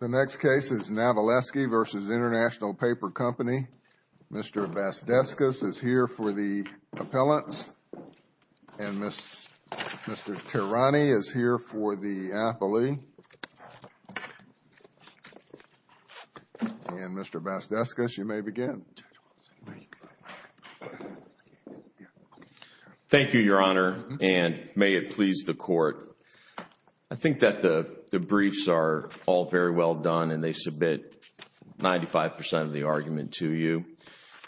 The next case is Navelski v. International Paper Company. Mr. Vazdeskis is here for the appellants and Mr. Tirani is here for the appellee. And Mr. Vazdeskis, you may begin. Thank you, Your Honor, and may it please the Court. I think that the briefs are all very well done and they submit 95 percent of the argument to you.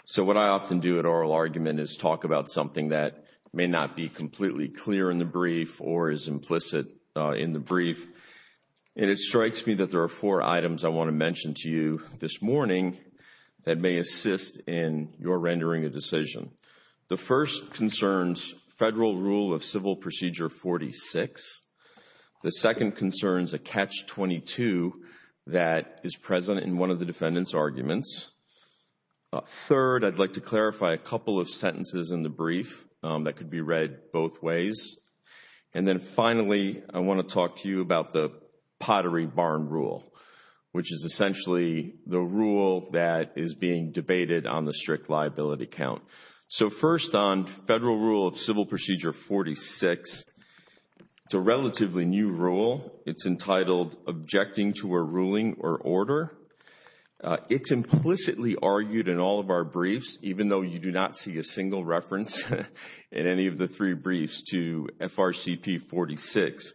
So what I often do at oral argument is talk about something that may not be completely clear in the brief or is implicit in the brief. And it strikes me that there are four items I want to mention to you this morning that may assist in your rendering a decision. The first concerns Federal Rule of Civil Procedure 46. The second concerns a Catch-22 that is present in one of the defendant's arguments. Third, I'd like to clarify a couple of sentences in the brief that could be read both ways. And then finally, I want to talk to you about the Pottery Barn Rule, which is essentially the rule that is being debated on the strict liability count. So first on Federal Rule of Civil Procedure 46, it's a relatively new rule. It's entitled Objecting to a Ruling or Order. It's implicitly argued in all of our briefs, even though you do not see a single reference in any of the three briefs to FRCP 46.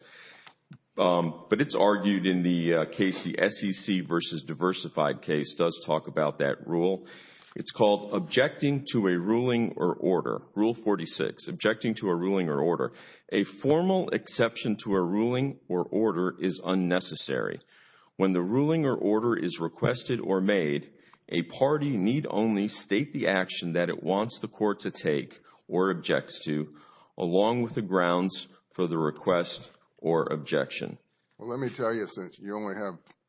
But it's argued in the SEC versus Diversified case does talk about that rule. It's called Objecting to a Ruling or Order, Rule 46, Objecting to a Ruling or Order. A formal exception to a ruling or order is unnecessary. When the ruling or order is requested or made, a party need only state the action that it wants the court to take or objects to along with the grounds for the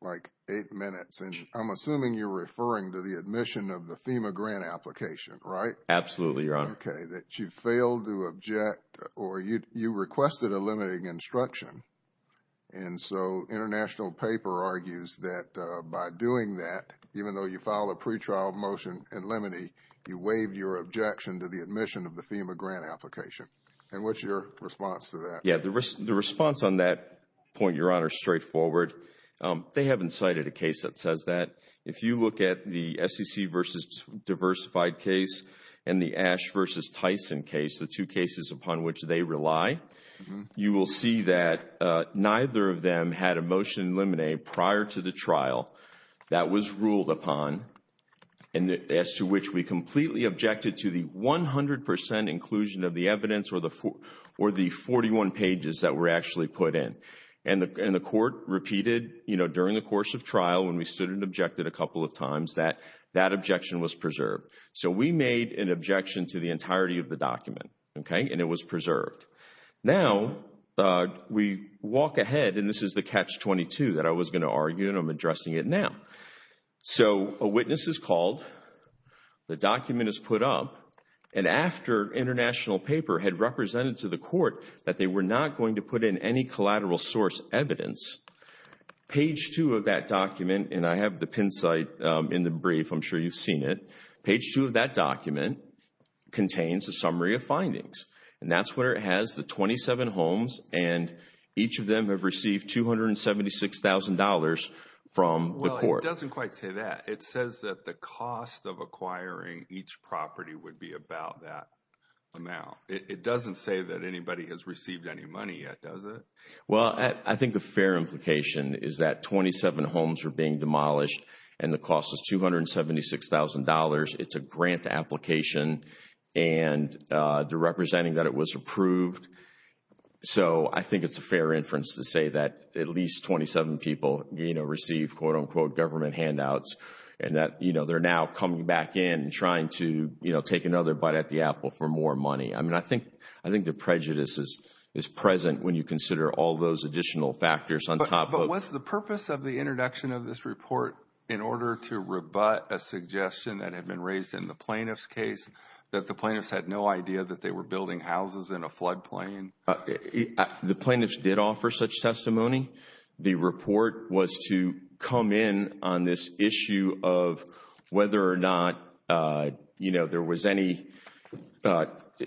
like eight minutes. And I'm assuming you're referring to the admission of the FEMA grant application, right? Absolutely, Your Honor. Okay, that you failed to object or you requested a limiting instruction. And so International Paper argues that by doing that, even though you file a pretrial motion in limine, you waived your objection to the admission of the FEMA grant application. And what's your response to that? Yeah, the response on that point, Your Honor, is straightforward. They haven't cited a case that says that. If you look at the SEC versus Diversified case and the Ash versus Tyson case, the two cases upon which they rely, you will see that neither of them had a motion in limine prior to the trial that was ruled upon and as to which we completely objected to the 100 percent inclusion of the evidence or the 41 pages that were actually put in. And the court repeated during the course of trial, when we stood and objected a couple of times, that objection was preserved. So we made an objection to the entirety of the document, okay? And it was preserved. Now, we walk ahead and this is the Catch-22 that I was going to argue and I'm addressing it now. So a witness is called, the document is put up, and after International Paper had represented to the court that they were not going to put in any collateral source evidence, page 2 of that document, and I have the pin site in the brief, I'm sure you've seen it, page 2 of that document contains a summary of findings. And that's where it has the 27 homes and each of them have received $276,000 from the court. Well, it doesn't quite say that. It says that the cost of acquiring each property would be about that amount. It doesn't say that anybody has received any money yet, does it? Well, I think the fair implication is that 27 homes are being demolished and the cost is $276,000. It's a grant application and they're representing that it was approved. So I think it's a fair inference to say that at least 27 people, you know, receive, quote unquote, government handouts and that, you know, they're now coming back in and trying to, you know, take another bite at the apple for more money. I mean, I think the prejudice is present when you consider all those additional factors on top of Was the purpose of the introduction of this report in order to rebut a suggestion that had been raised in the plaintiff's case that the plaintiffs had no idea that they were building houses in a floodplain? The plaintiffs did offer such testimony. The report was to come in on this issue of whether or not, you know, there was any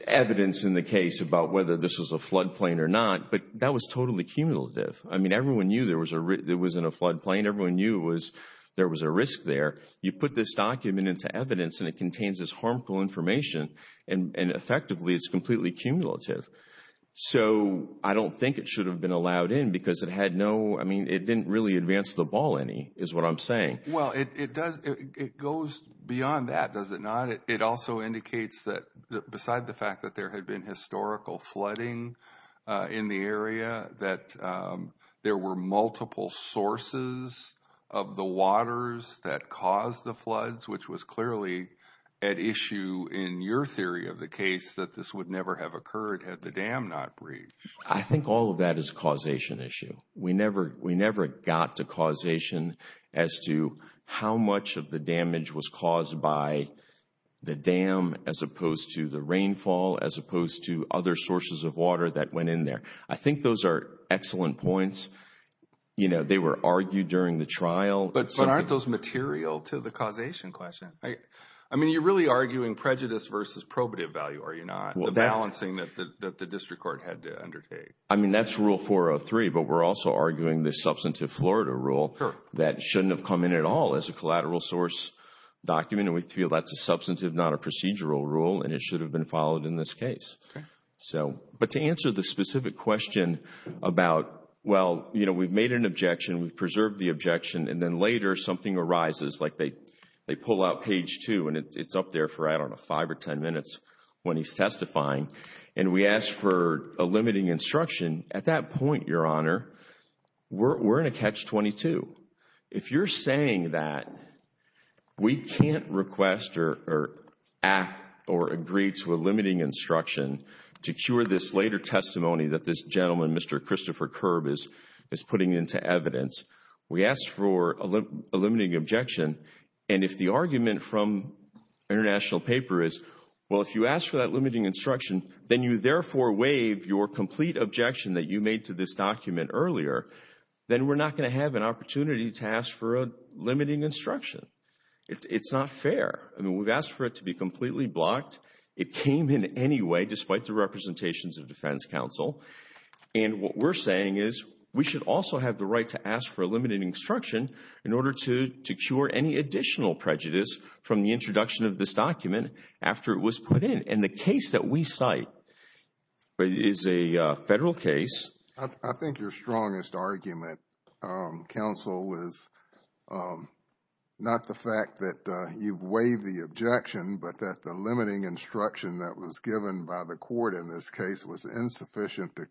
evidence in the case about whether this was a floodplain or not. But that was totally cumulative. I mean, everyone knew there was a there was in a floodplain. Everyone knew was there was a risk there. You put this document into evidence and it contains this harmful information and effectively it's completely cumulative. So I don't think it should have been allowed in because it had no I mean, it didn't really advance the ball any is what I'm saying. Well, it does. It goes beyond that, does it not? It also indicates that beside the fact that there had been historical flooding in the area, that there were multiple sources of the waters that caused the floods, which was clearly at issue in your theory of the case that this would never have occurred had the dam not breached. I think all of that is a causation issue. We never we never got to causation as to how much of the damage was caused by the dam as opposed to the rainfall, as opposed to other sources of water that went in there. I think those are excellent points. You know, they were argued during the trial. But aren't those material to the causation question? I mean, you're really arguing prejudice versus probative value, are you not? The balancing that the district court had to undertake. I mean, that's rule 403. But we're also arguing the substantive Florida rule that shouldn't have come in at all as a collateral source document, and we feel that's a substantive, not a procedural rule, and it should have been followed in this case. But to answer the specific question about, well, you know, we've made an objection, we've preserved the objection, and then later something arises, like they pull out page two, and it's up there for, I don't know, five or ten minutes when he's testifying, and we ask for a limiting instruction, at that point, Your Honor, we're in a catch-22. If you're saying that we can't request or act or agree to a limiting instruction to cure this later testimony that this gentleman, Mr. Christopher Kerb, is putting into evidence, we ask for a limiting objection, and if the argument from international paper is, well, if you ask for that limiting instruction, then you therefore waive your complete objection that you made to this document earlier, then we're not going to have an opportunity to ask for a limiting instruction. It's not fair. I mean, we've asked for it to be completely blocked. It came in any way, despite the representations of defense counsel. And what we're saying is we should also have the right to ask for a limiting instruction in order to cure any additional prejudice from the introduction of this document after it was put in. And the case that we cite is a federal case. I think your strongest argument, counsel, is not the fact that you've waived the objection, but that the limiting instruction that was given by the court in this case was insufficient to I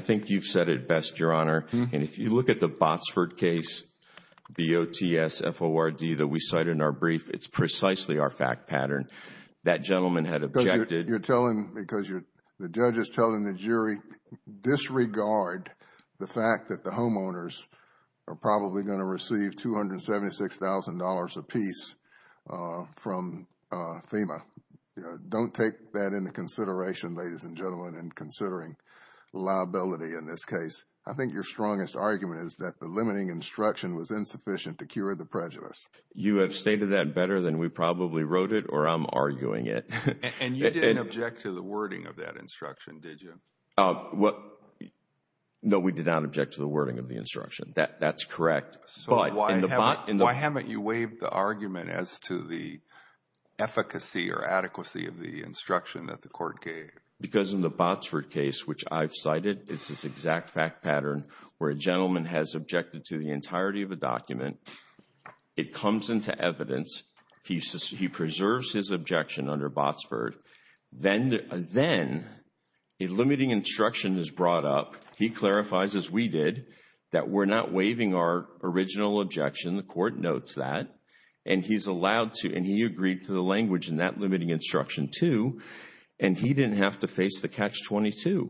think you've said it best, Your Honor. And if you look at the Botsford case, B-O-T-S-F-O-R-D, that we cite in our brief, it's precisely our fact pattern. That gentleman had objected. You're telling, because the judge is telling the jury, disregard the fact that the homeowners are probably going to receive $276,000 apiece from FEMA. Don't take that into consideration, ladies and gentlemen, in considering liability in this case. I think your strongest argument is that the limiting instruction was insufficient to cure the prejudice. You have stated that better than we probably wrote it or I'm arguing it. And you didn't object to the wording of that instruction, did you? No, we did not object to the wording of the instruction. That's correct. So why haven't you waived the argument as to the efficacy or adequacy of the instruction that the court gave? Because in the Botsford case, which I've cited, it's this exact fact pattern where a gentleman has objected to the entirety of a document. It comes into evidence. He preserves his objection under Botsford. Then a limiting instruction is brought up. He clarifies, as we did, that we're not waiving our original objection. The court notes that. And he's allowed to, and he agreed to the language in that limiting instruction, too. And he didn't have to face the catch-22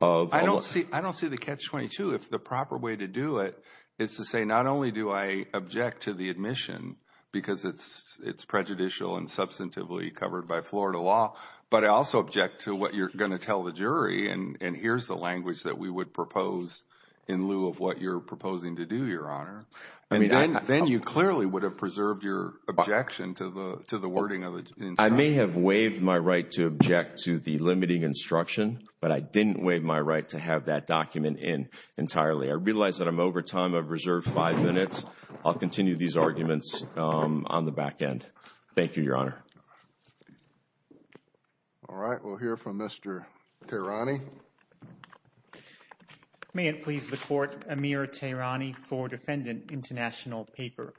of... I don't see the catch-22 if the proper way to do it is to say not only do I object to the admission because it's prejudicial and substantively covered by Florida law, but I also object to what you're going to tell the jury. And here's the language that we would propose in lieu of what you're proposing to do, Your Honor. Then you clearly would have preserved your objection to the wording of I may have waived my right to object to the limiting instruction, but I didn't waive my right to have that document in entirely. I realize that I'm over time. I've reserved five minutes. I'll continue these arguments on the back end. Thank you, Your Honor. All right. We'll hear from Mr. Tehrani. May it please the Court, Amir Tehrani for Defendant International Paper.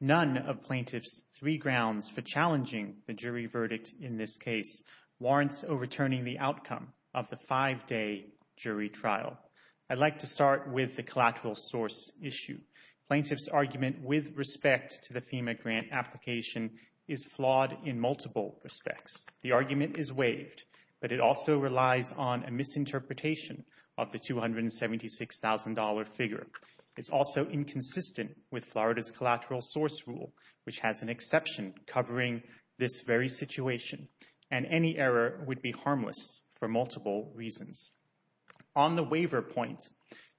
None of plaintiffs' three grounds for challenging the jury verdict in this case warrants overturning the outcome of the five-day jury trial. I'd like to start with the collateral source issue. Plaintiff's argument with respect to the FEMA grant application is flawed in multiple respects. The argument is waived, but it also relies on a misinterpretation of the $276,000 figure. It's also inconsistent with Florida's collateral source rule, which has an exception covering this very situation, and any error would be harmless for multiple reasons. On the waiver point,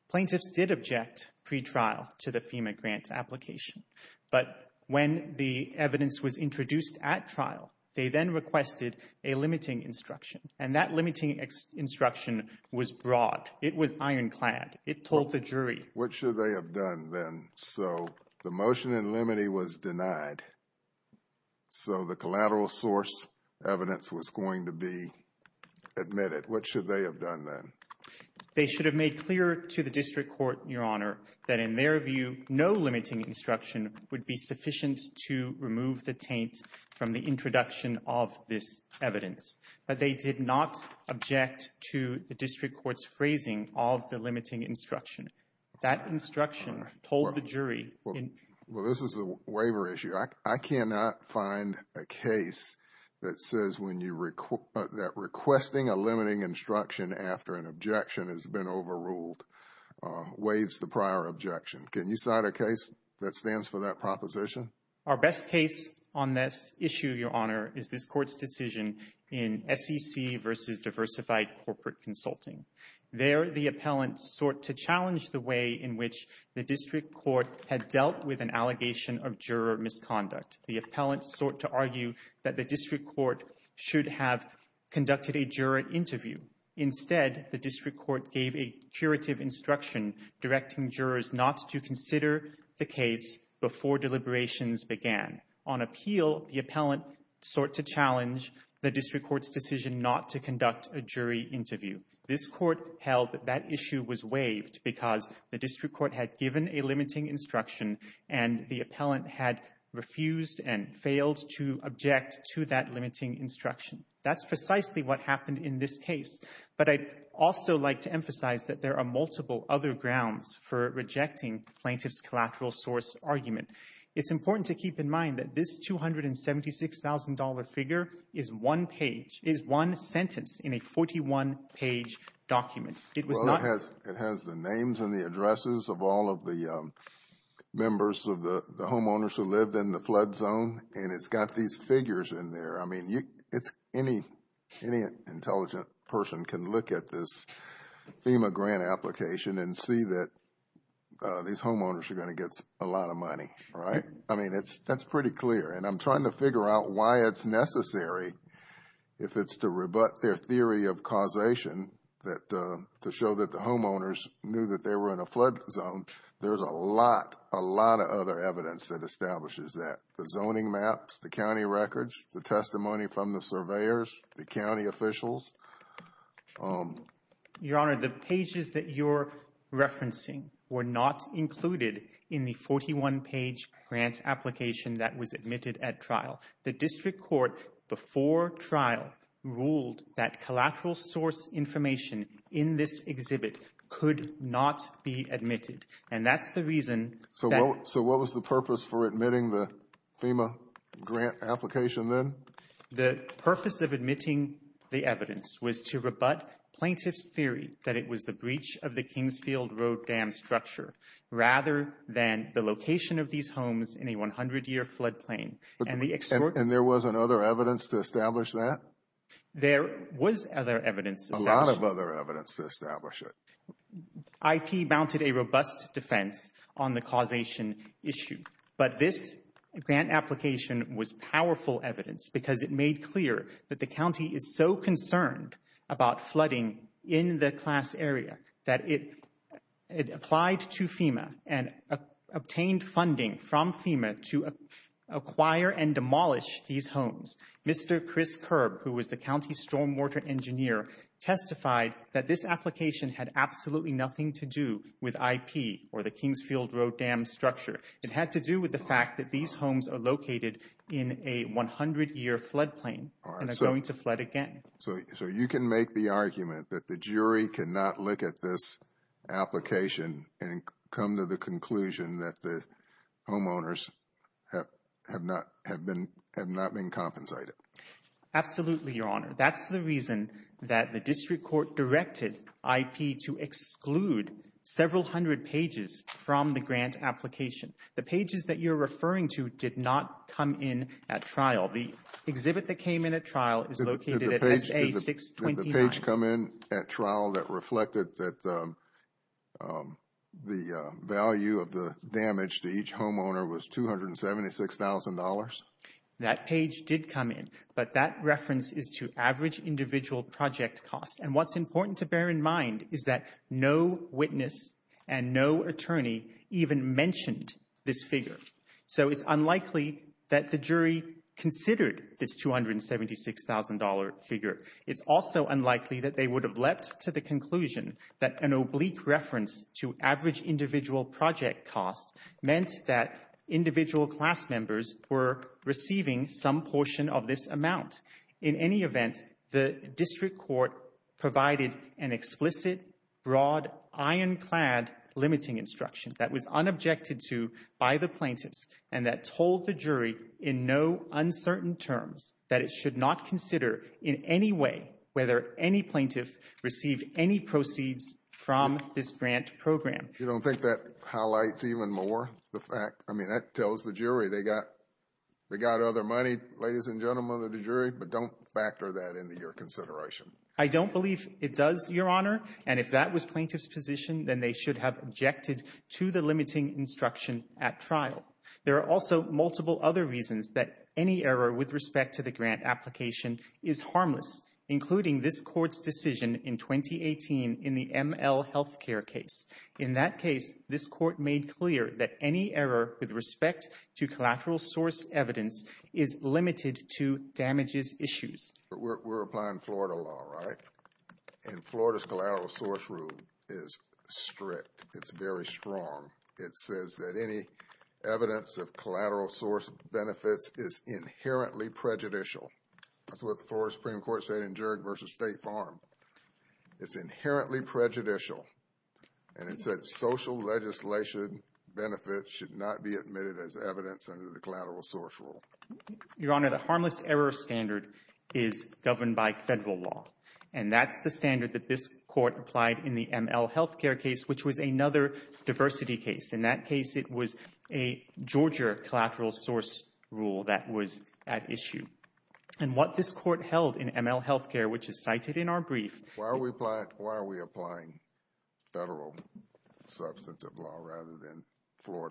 plaintiffs did object pre-trial to the FEMA grant application, but when the evidence was introduced at trial, they then requested a limiting instruction, and that limiting instruction was broad. It was ironclad. It told the jury. What should they have done then? So the motion in limine was denied, so the collateral source evidence was going to be admitted. What should they have done then? They should have made clear to the district court, Your Honor, that in their view, no limiting instruction would be sufficient to remove the taint from the introduction of this district court's phrasing of the limiting instruction. That instruction told the jury. Well, this is a waiver issue. I cannot find a case that says that requesting a limiting instruction after an objection has been overruled waives the prior objection. Can you cite a case that stands for that proposition? Our best case on this issue, Your Honor, is this court's decision in SEC v. Diversified Corporate Consulting. There, the appellant sought to challenge the way in which the district court had dealt with an allegation of juror misconduct. The appellant sought to argue that the district court should have conducted a juror interview. Instead, the district court gave a curative instruction directing jurors not to the district court's decision not to conduct a jury interview. This court held that that issue was waived because the district court had given a limiting instruction and the appellant had refused and failed to object to that limiting instruction. That's precisely what happened in this case. But I'd also like to emphasize that there are multiple other grounds for rejecting plaintiff's collateral source argument. It's important to keep in mind that this $276,000 figure is one sentence in a 41-page document. It has the names and the addresses of all of the members of the homeowners who lived in the flood zone and it's got these figures in there. I mean, any intelligent person can look at this FEMA grant application and see that these homeowners are going to get a lot of money, right? I mean, that's pretty clear and I'm trying to figure out why it's necessary if it's to rebut their theory of causation that to show that the homeowners knew that they were in a flood zone. There's a lot, a lot of other evidence that establishes that. The zoning maps, the county records, the testimony from the surveyors, the county officials. Your Honor, the pages that you're referencing were not included in the 41-page grant application that was admitted at trial. The district court before trial ruled that collateral source information in this exhibit could not be admitted and that's the reason. So what was the purpose for admitting the FEMA grant application then? The purpose of admitting the evidence was to rebut plaintiff's theory that it was the breach of the Kingsfield Road dam structure rather than the location of these homes in a 100-year flood plain. And there was other evidence to establish that? There was other evidence. A lot of other evidence to establish it. IP mounted a robust defense on the causation issue, but this grant application was powerful evidence because it made clear that the county is so concerned about flooding in the class area that it applied to FEMA and obtained funding from FEMA to acquire and demolish these homes. Mr. Chris Kerb, who was the county stormwater engineer, testified that this application had absolutely nothing to do with IP or the Kingsfield Road dam structure. It had to with the fact that these homes are located in a 100-year flood plain and are going to flood again. So you can make the argument that the jury cannot look at this application and come to the conclusion that the homeowners have not been compensated? Absolutely, Your Honor. That's the reason that the district court directed IP to exclude several hundred pages from the grant application. The pages that you're referring to did not come in at trial. The exhibit that came in at trial is located at SA 629. Did the page come in at trial that reflected that the value of the damage to each homeowner was $276,000? That page did come in, but that reference is to average individual project cost. And what's important to bear in mind is that no witness and no attorney even mentioned this figure. So it's unlikely that the jury considered this $276,000 figure. It's also unlikely that they would have leapt to the conclusion that an oblique reference to average individual project cost meant that individual class members were receiving some portion of this provided an explicit, broad, ironclad limiting instruction that was unobjected to by the plaintiffs and that told the jury in no uncertain terms that it should not consider in any way whether any plaintiff received any proceeds from this grant program. You don't think that highlights even more the fact, I mean, that tells the jury they got other money, ladies and gentlemen of the jury, but don't factor that into your consideration. I don't believe it does, Your Honor. And if that was plaintiff's position, then they should have objected to the limiting instruction at trial. There are also multiple other reasons that any error with respect to the grant application is harmless, including this court's decision in 2018 in the ML Health Care case. In that case, this court made clear that any error with respect to damages issues. We're applying Florida law, right? And Florida's collateral source rule is strict. It's very strong. It says that any evidence of collateral source benefits is inherently prejudicial. That's what the Florida Supreme Court said in Juerg versus State Farm. It's inherently prejudicial. And it said social legislation benefits should not be admitted as harmless error standard is governed by federal law. And that's the standard that this court applied in the ML Health Care case, which was another diversity case. In that case, it was a Georgia collateral source rule that was at issue. And what this court held in ML Health Care, which is cited in our brief. Why are we applying federal substantive law rather than your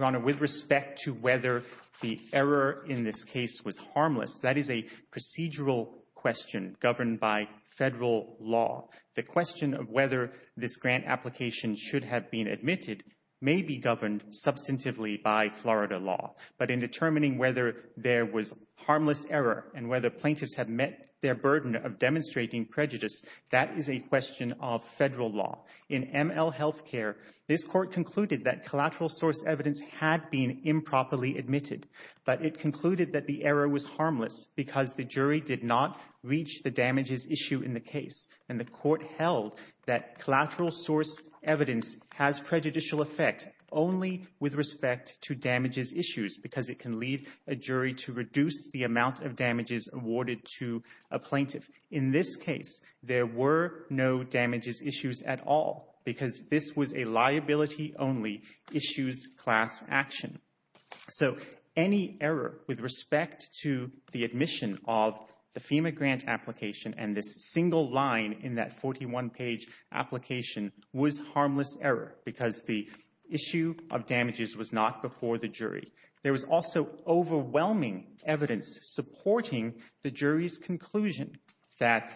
honor with respect to whether the error in this case was harmless? That is a procedural question governed by federal law. The question of whether this grant application should have been admitted may be governed substantively by Florida law. But in determining whether there was harmless error and whether plaintiffs have met their burden of demonstrating prejudice, that is a question of federal law. In ML Health Care, this court concluded that collateral source evidence had been improperly admitted. But it concluded that the error was harmless because the jury did not reach the damages issue in the case. And the court held that collateral source evidence has prejudicial effect only with respect to damages issues because it can lead a jury to believe that there were no damages issues at all because this was a liability only issues class action. So any error with respect to the admission of the FEMA grant application and this single line in that 41 page application was harmless error because the issue of damages was not before the jury. There was also overwhelming evidence supporting the jury's conclusion that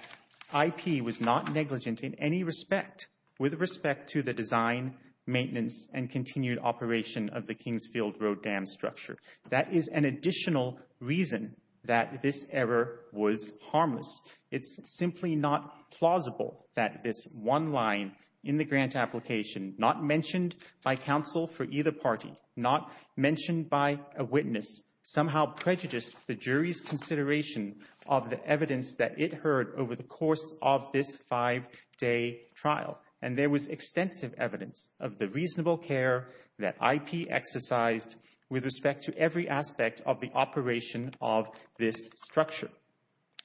IP was not negligent in any respect with respect to the design, maintenance, and continued operation of the Kingsfield Road Dam structure. That is an additional reason that this error was harmless. It's simply not plausible that this one line in the grant application, not mentioned by counsel for either party, not mentioned by a witness, somehow prejudiced the jury's consideration of the evidence that it heard over the course of this five-day trial. And there was extensive evidence of the reasonable care that IP exercised with respect to every aspect of the operation of this structure.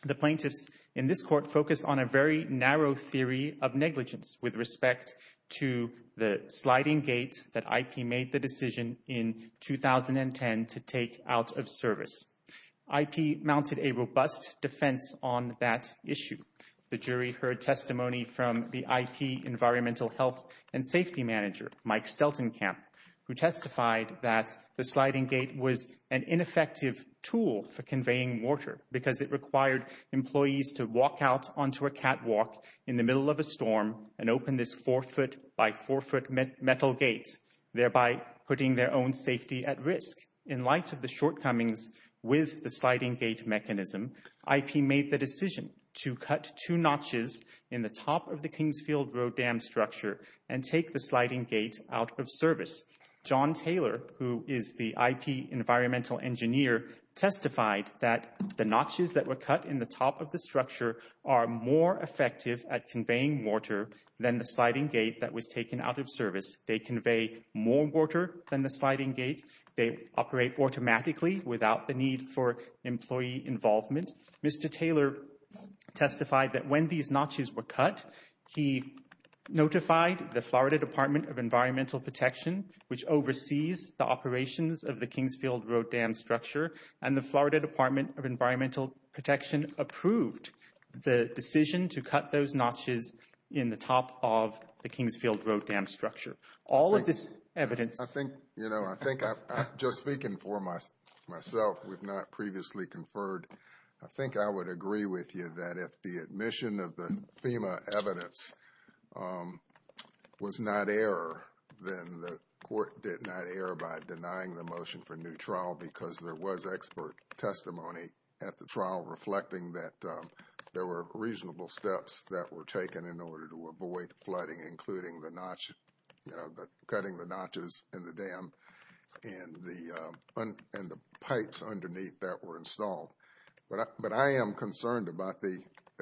The plaintiffs in this court focused on a very narrow theory of negligence with respect to the sliding gate that IP made the decision in 2010 to take out of service. IP mounted a robust defense on that issue. The jury heard testimony from the IP environmental health and safety manager, Mike Steltenkamp, who testified that the sliding gate was an ineffective tool for conveying water because it required employees to walk out onto a catwalk in the forefoot by forefoot metal gate, thereby putting their own safety at risk. In light of the shortcomings with the sliding gate mechanism, IP made the decision to cut two notches in the top of the Kingsfield Road Dam structure and take the sliding gate out of service. John Taylor, who is the IP environmental engineer, testified that the notches that were cut in the top of the structure are more effective at conveying water than the sliding gate that was taken out of service. They convey more water than the sliding gate. They operate automatically without the need for employee involvement. Mr. Taylor testified that when these notches were cut, he notified the Florida Department of Environmental Protection, which oversees the operations of the Kingsfield Road Dam structure, and the Florida Department of Environmental Protection approved the decision to cut those notches in the top of the Kingsfield Road Dam structure. All of this evidence... I think, you know, I think I'm just speaking for myself. We've not previously conferred. I think I would agree with you that if the admission of the FEMA evidence was not error, then the court did not err by denying the motion for new trial because there was expert testimony at the trial reflecting that there were reasonable steps that were taken in order to avoid flooding, including the notch, you know, cutting the notches in the dam and the pipes underneath that were installed. But I am concerned about the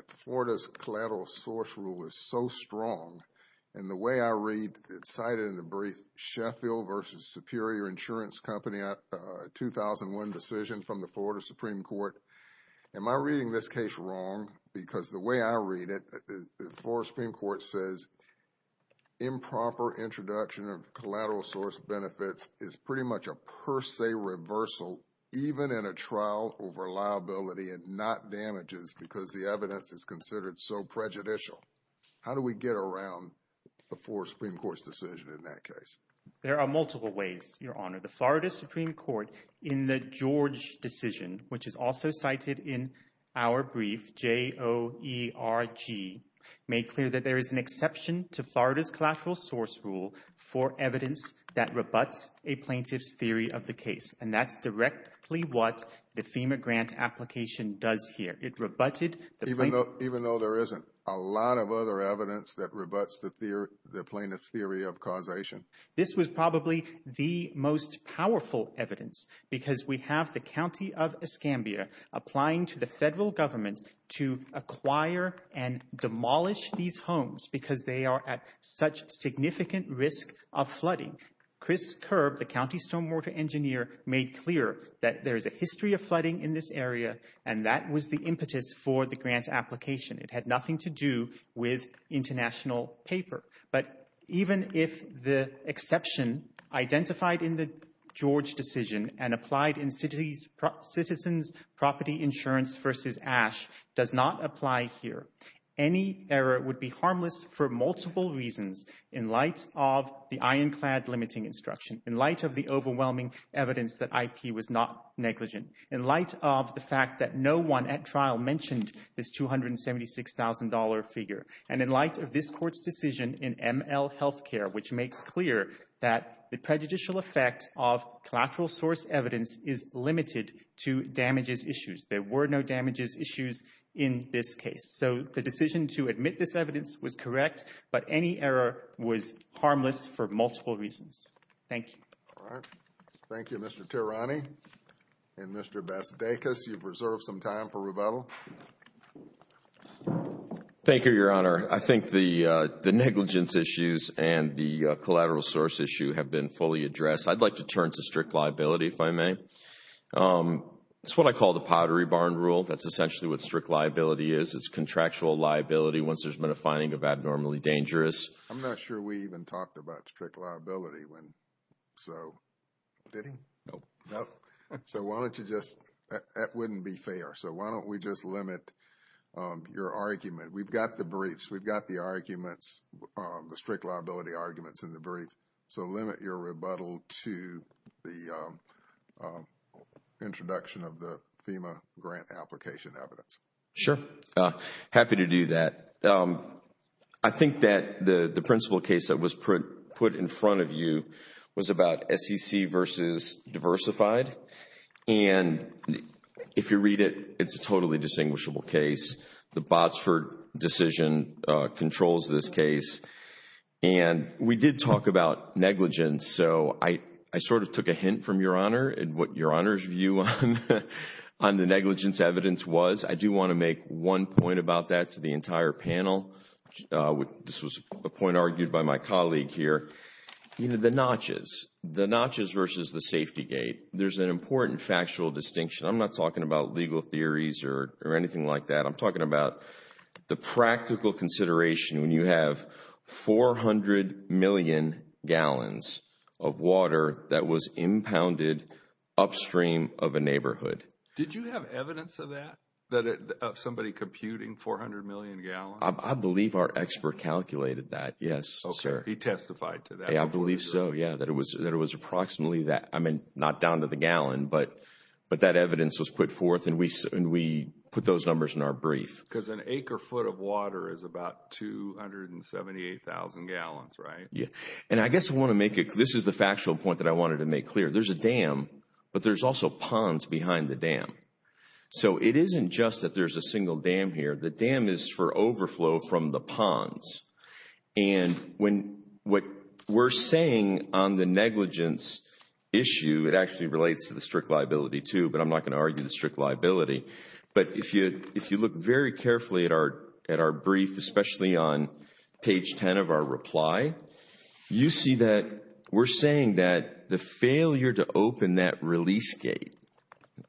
Florida's collateral source rule is so strong. And the way I read, it's cited in the brief Sheffield versus Superior Insurance Company 2001 decision from the Florida Supreme Court. Am I reading this case wrong? Because the way I read it, the Florida Supreme Court says improper introduction of collateral source benefits is pretty much a per se reversal, even in a trial over liability and not damages because the evidence is considered so prejudicial. How do we get around the Florida Supreme Court's decision in that case? There are multiple ways, Your Honor. The Florida Supreme Court in the George decision, which is also cited in our brief, J-O-E-R-G, made clear that there is an exception to Florida's collateral source rule for evidence that rebuts a plaintiff's theory of the case. And that's directly what the other evidence that rebuts the plaintiff's theory of causation. This was probably the most powerful evidence because we have the County of Escambia applying to the federal government to acquire and demolish these homes because they are at such significant risk of flooding. Chris Kerb, the county stormwater engineer, made clear that there is a history of flooding in this area and that was the impetus for the international paper. But even if the exception identified in the George decision and applied in Citizens' Property Insurance v. Ash does not apply here, any error would be harmless for multiple reasons in light of the ironclad limiting instruction, in light of the overwhelming evidence that IP was not negligent, in light of the fact that no one at trial mentioned this $276,000 figure, and in light of this Court's decision in ML Healthcare, which makes clear that the prejudicial effect of collateral source evidence is limited to damages issues. There were no damages issues in this case. So the decision to admit this evidence was correct, but any error was harmless for multiple reasons. Thank you. All right. Thank you, Mr. Tirani. And Mr. Basudeikis, you've reserved some time for rebuttal. Thank you, Your Honor. I think the negligence issues and the collateral source issue have been fully addressed. I'd like to turn to strict liability, if I may. It's what I call the Pottery Barn Rule. That's essentially what strict liability is. It's contractual liability once there's been a finding of abnormally dangerous. I'm not sure we even talked about strict liability when... So... Did he? Nope. Nope. So why don't you just... That wouldn't be fair. So why don't we just limit your argument? We've got the briefs. We've got the arguments, the strict liability arguments in the brief. So limit your rebuttal to the introduction of the FEMA grant application evidence. Sure. Happy to do that. I think that the principal case that was put in front of you was about SEC versus diversified. And if you read it, it's a totally distinguishable case. The Botsford decision controls this case. And we did talk about negligence. So I sort of took a hint from Your Honor and what Your Honor's view on the negligence evidence was. I do want to make one point about that to the entire panel. This was a point argued by my colleague here. The notches. The notches versus the safety gate. There's an important factual distinction. I'm not talking about legal theories or anything like that. I'm talking about the practical consideration when you have 400 million gallons of water that was impounded upstream of a neighborhood. Did you have evidence of that? Of somebody computing 400 million gallons? I believe our expert calculated that. Yes, sir. He testified to that? I believe so. Yeah, that it was approximately that. I mean, not down to the gallon, but that evidence was put forth and we put those numbers in our brief. Because an acre foot of water is about 278,000 gallons, right? Yeah. And I guess I want to make it, this is the factual point that I wanted to make clear. There's a dam, but there's also ponds behind the dam. So it isn't just that there's a single dam here. The dam is for overflow from the ponds. And what we're saying on the negligence issue, it actually relates to the strict liability too, but I'm not going to argue the strict liability. But if you look very carefully at our brief, especially on page 10 of our reply, you see that we're saying that the failure to open that release gate,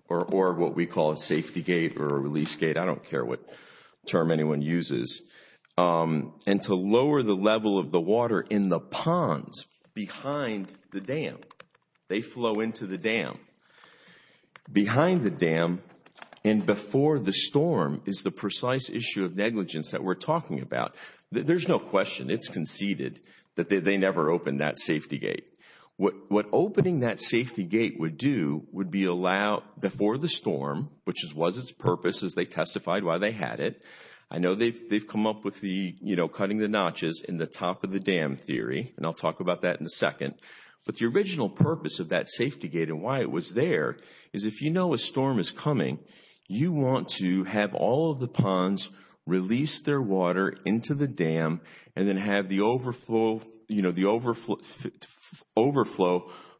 or what we call a safety gate or a release gate, I don't care what term anyone uses, and to lower the level of the water in the ponds behind the dam. They flow into the dam. Behind the dam and before the storm is the precise issue of negligence that we're talking about. There's no question, it's conceded that they never opened that safety gate. What opening that safety gate would do would be allow before the storm, which was its purpose as they testified why they had it. I know they've come up with the, you know, cutting the notches in the top of the dam theory, and I'll talk about that in a second. But the original purpose of that safety gate and why it was there is if you know a storm is coming, you want to have all of the ponds release their water into the dam and then have the overflow, you know, the overflow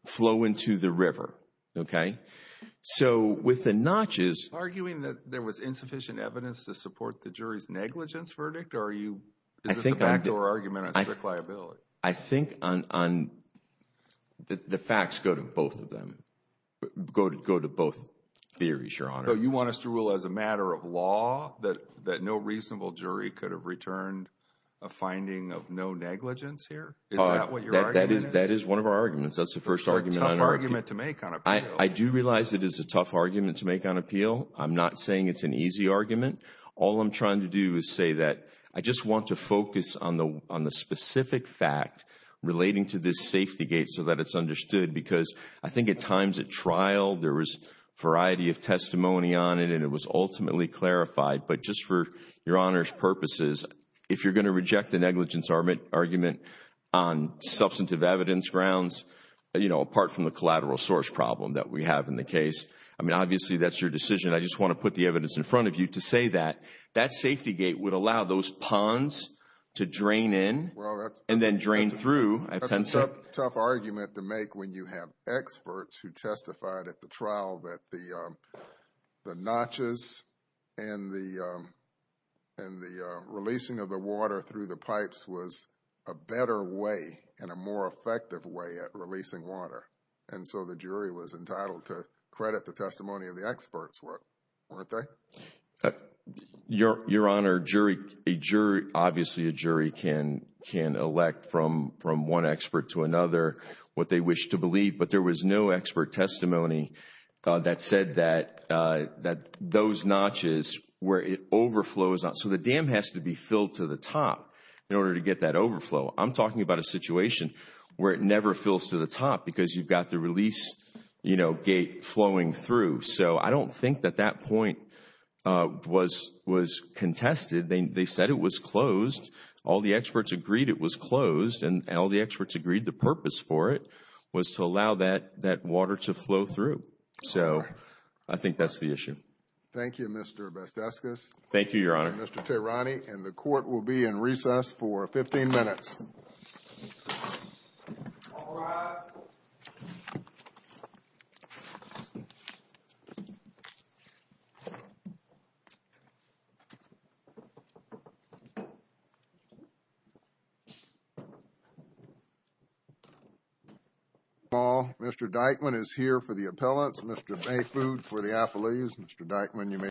flow into the river, okay? So with the notches... Arguing that there was insufficient evidence to support the jury's negligence verdict or are you, is this a factor or argument on strict liability? I think on the facts go to both of them, go to both theories, Your Honor. So you want us to rule as a matter of law that no reasonable jury could have returned a finding of no negligence here? Is that what your argument is? That is one of our arguments. That's the first argument. It's a tough argument to make on appeal. I do realize it is a tough argument to make on appeal. I'm not saying it's an easy argument. All I'm trying to do is say that I just want to focus on the specific fact relating to this safety gate so that it's understood because I think at times at trial, there was a variety of testimony on it and it was ultimately clarified. But just for Your Honor's purposes, if you're going to reject the negligence argument on substantive evidence grounds, apart from the collateral source problem that we have in the case, I mean, obviously, that's your decision. I just want to put the evidence in front of you to say that that safety gate would allow those ponds to drain in and then drain through. Well, that's a tough argument to make when you have experts who testified at the trial that the and the releasing of the water through the pipes was a better way and a more effective way at releasing water. And so the jury was entitled to credit the testimony of the experts, weren't they? Your Honor, a jury, obviously, a jury can elect from one expert to another what they wish to So the dam has to be filled to the top in order to get that overflow. I'm talking about a situation where it never fills to the top because you've got the release gate flowing through. So I don't think that that point was contested. They said it was closed. All the experts agreed it was closed and all the experts agreed the purpose for it was to allow that water to flow through. So I think that's the issue. Thank you, Mr. Besteskis. Thank you, Your Honor. Mr. Tehrani, and the court will be in recess for 15 minutes. All rise. Mr. Dykman is here for the appellants. Mr. Mayfood for the appellees. Mr. Dykman, you may.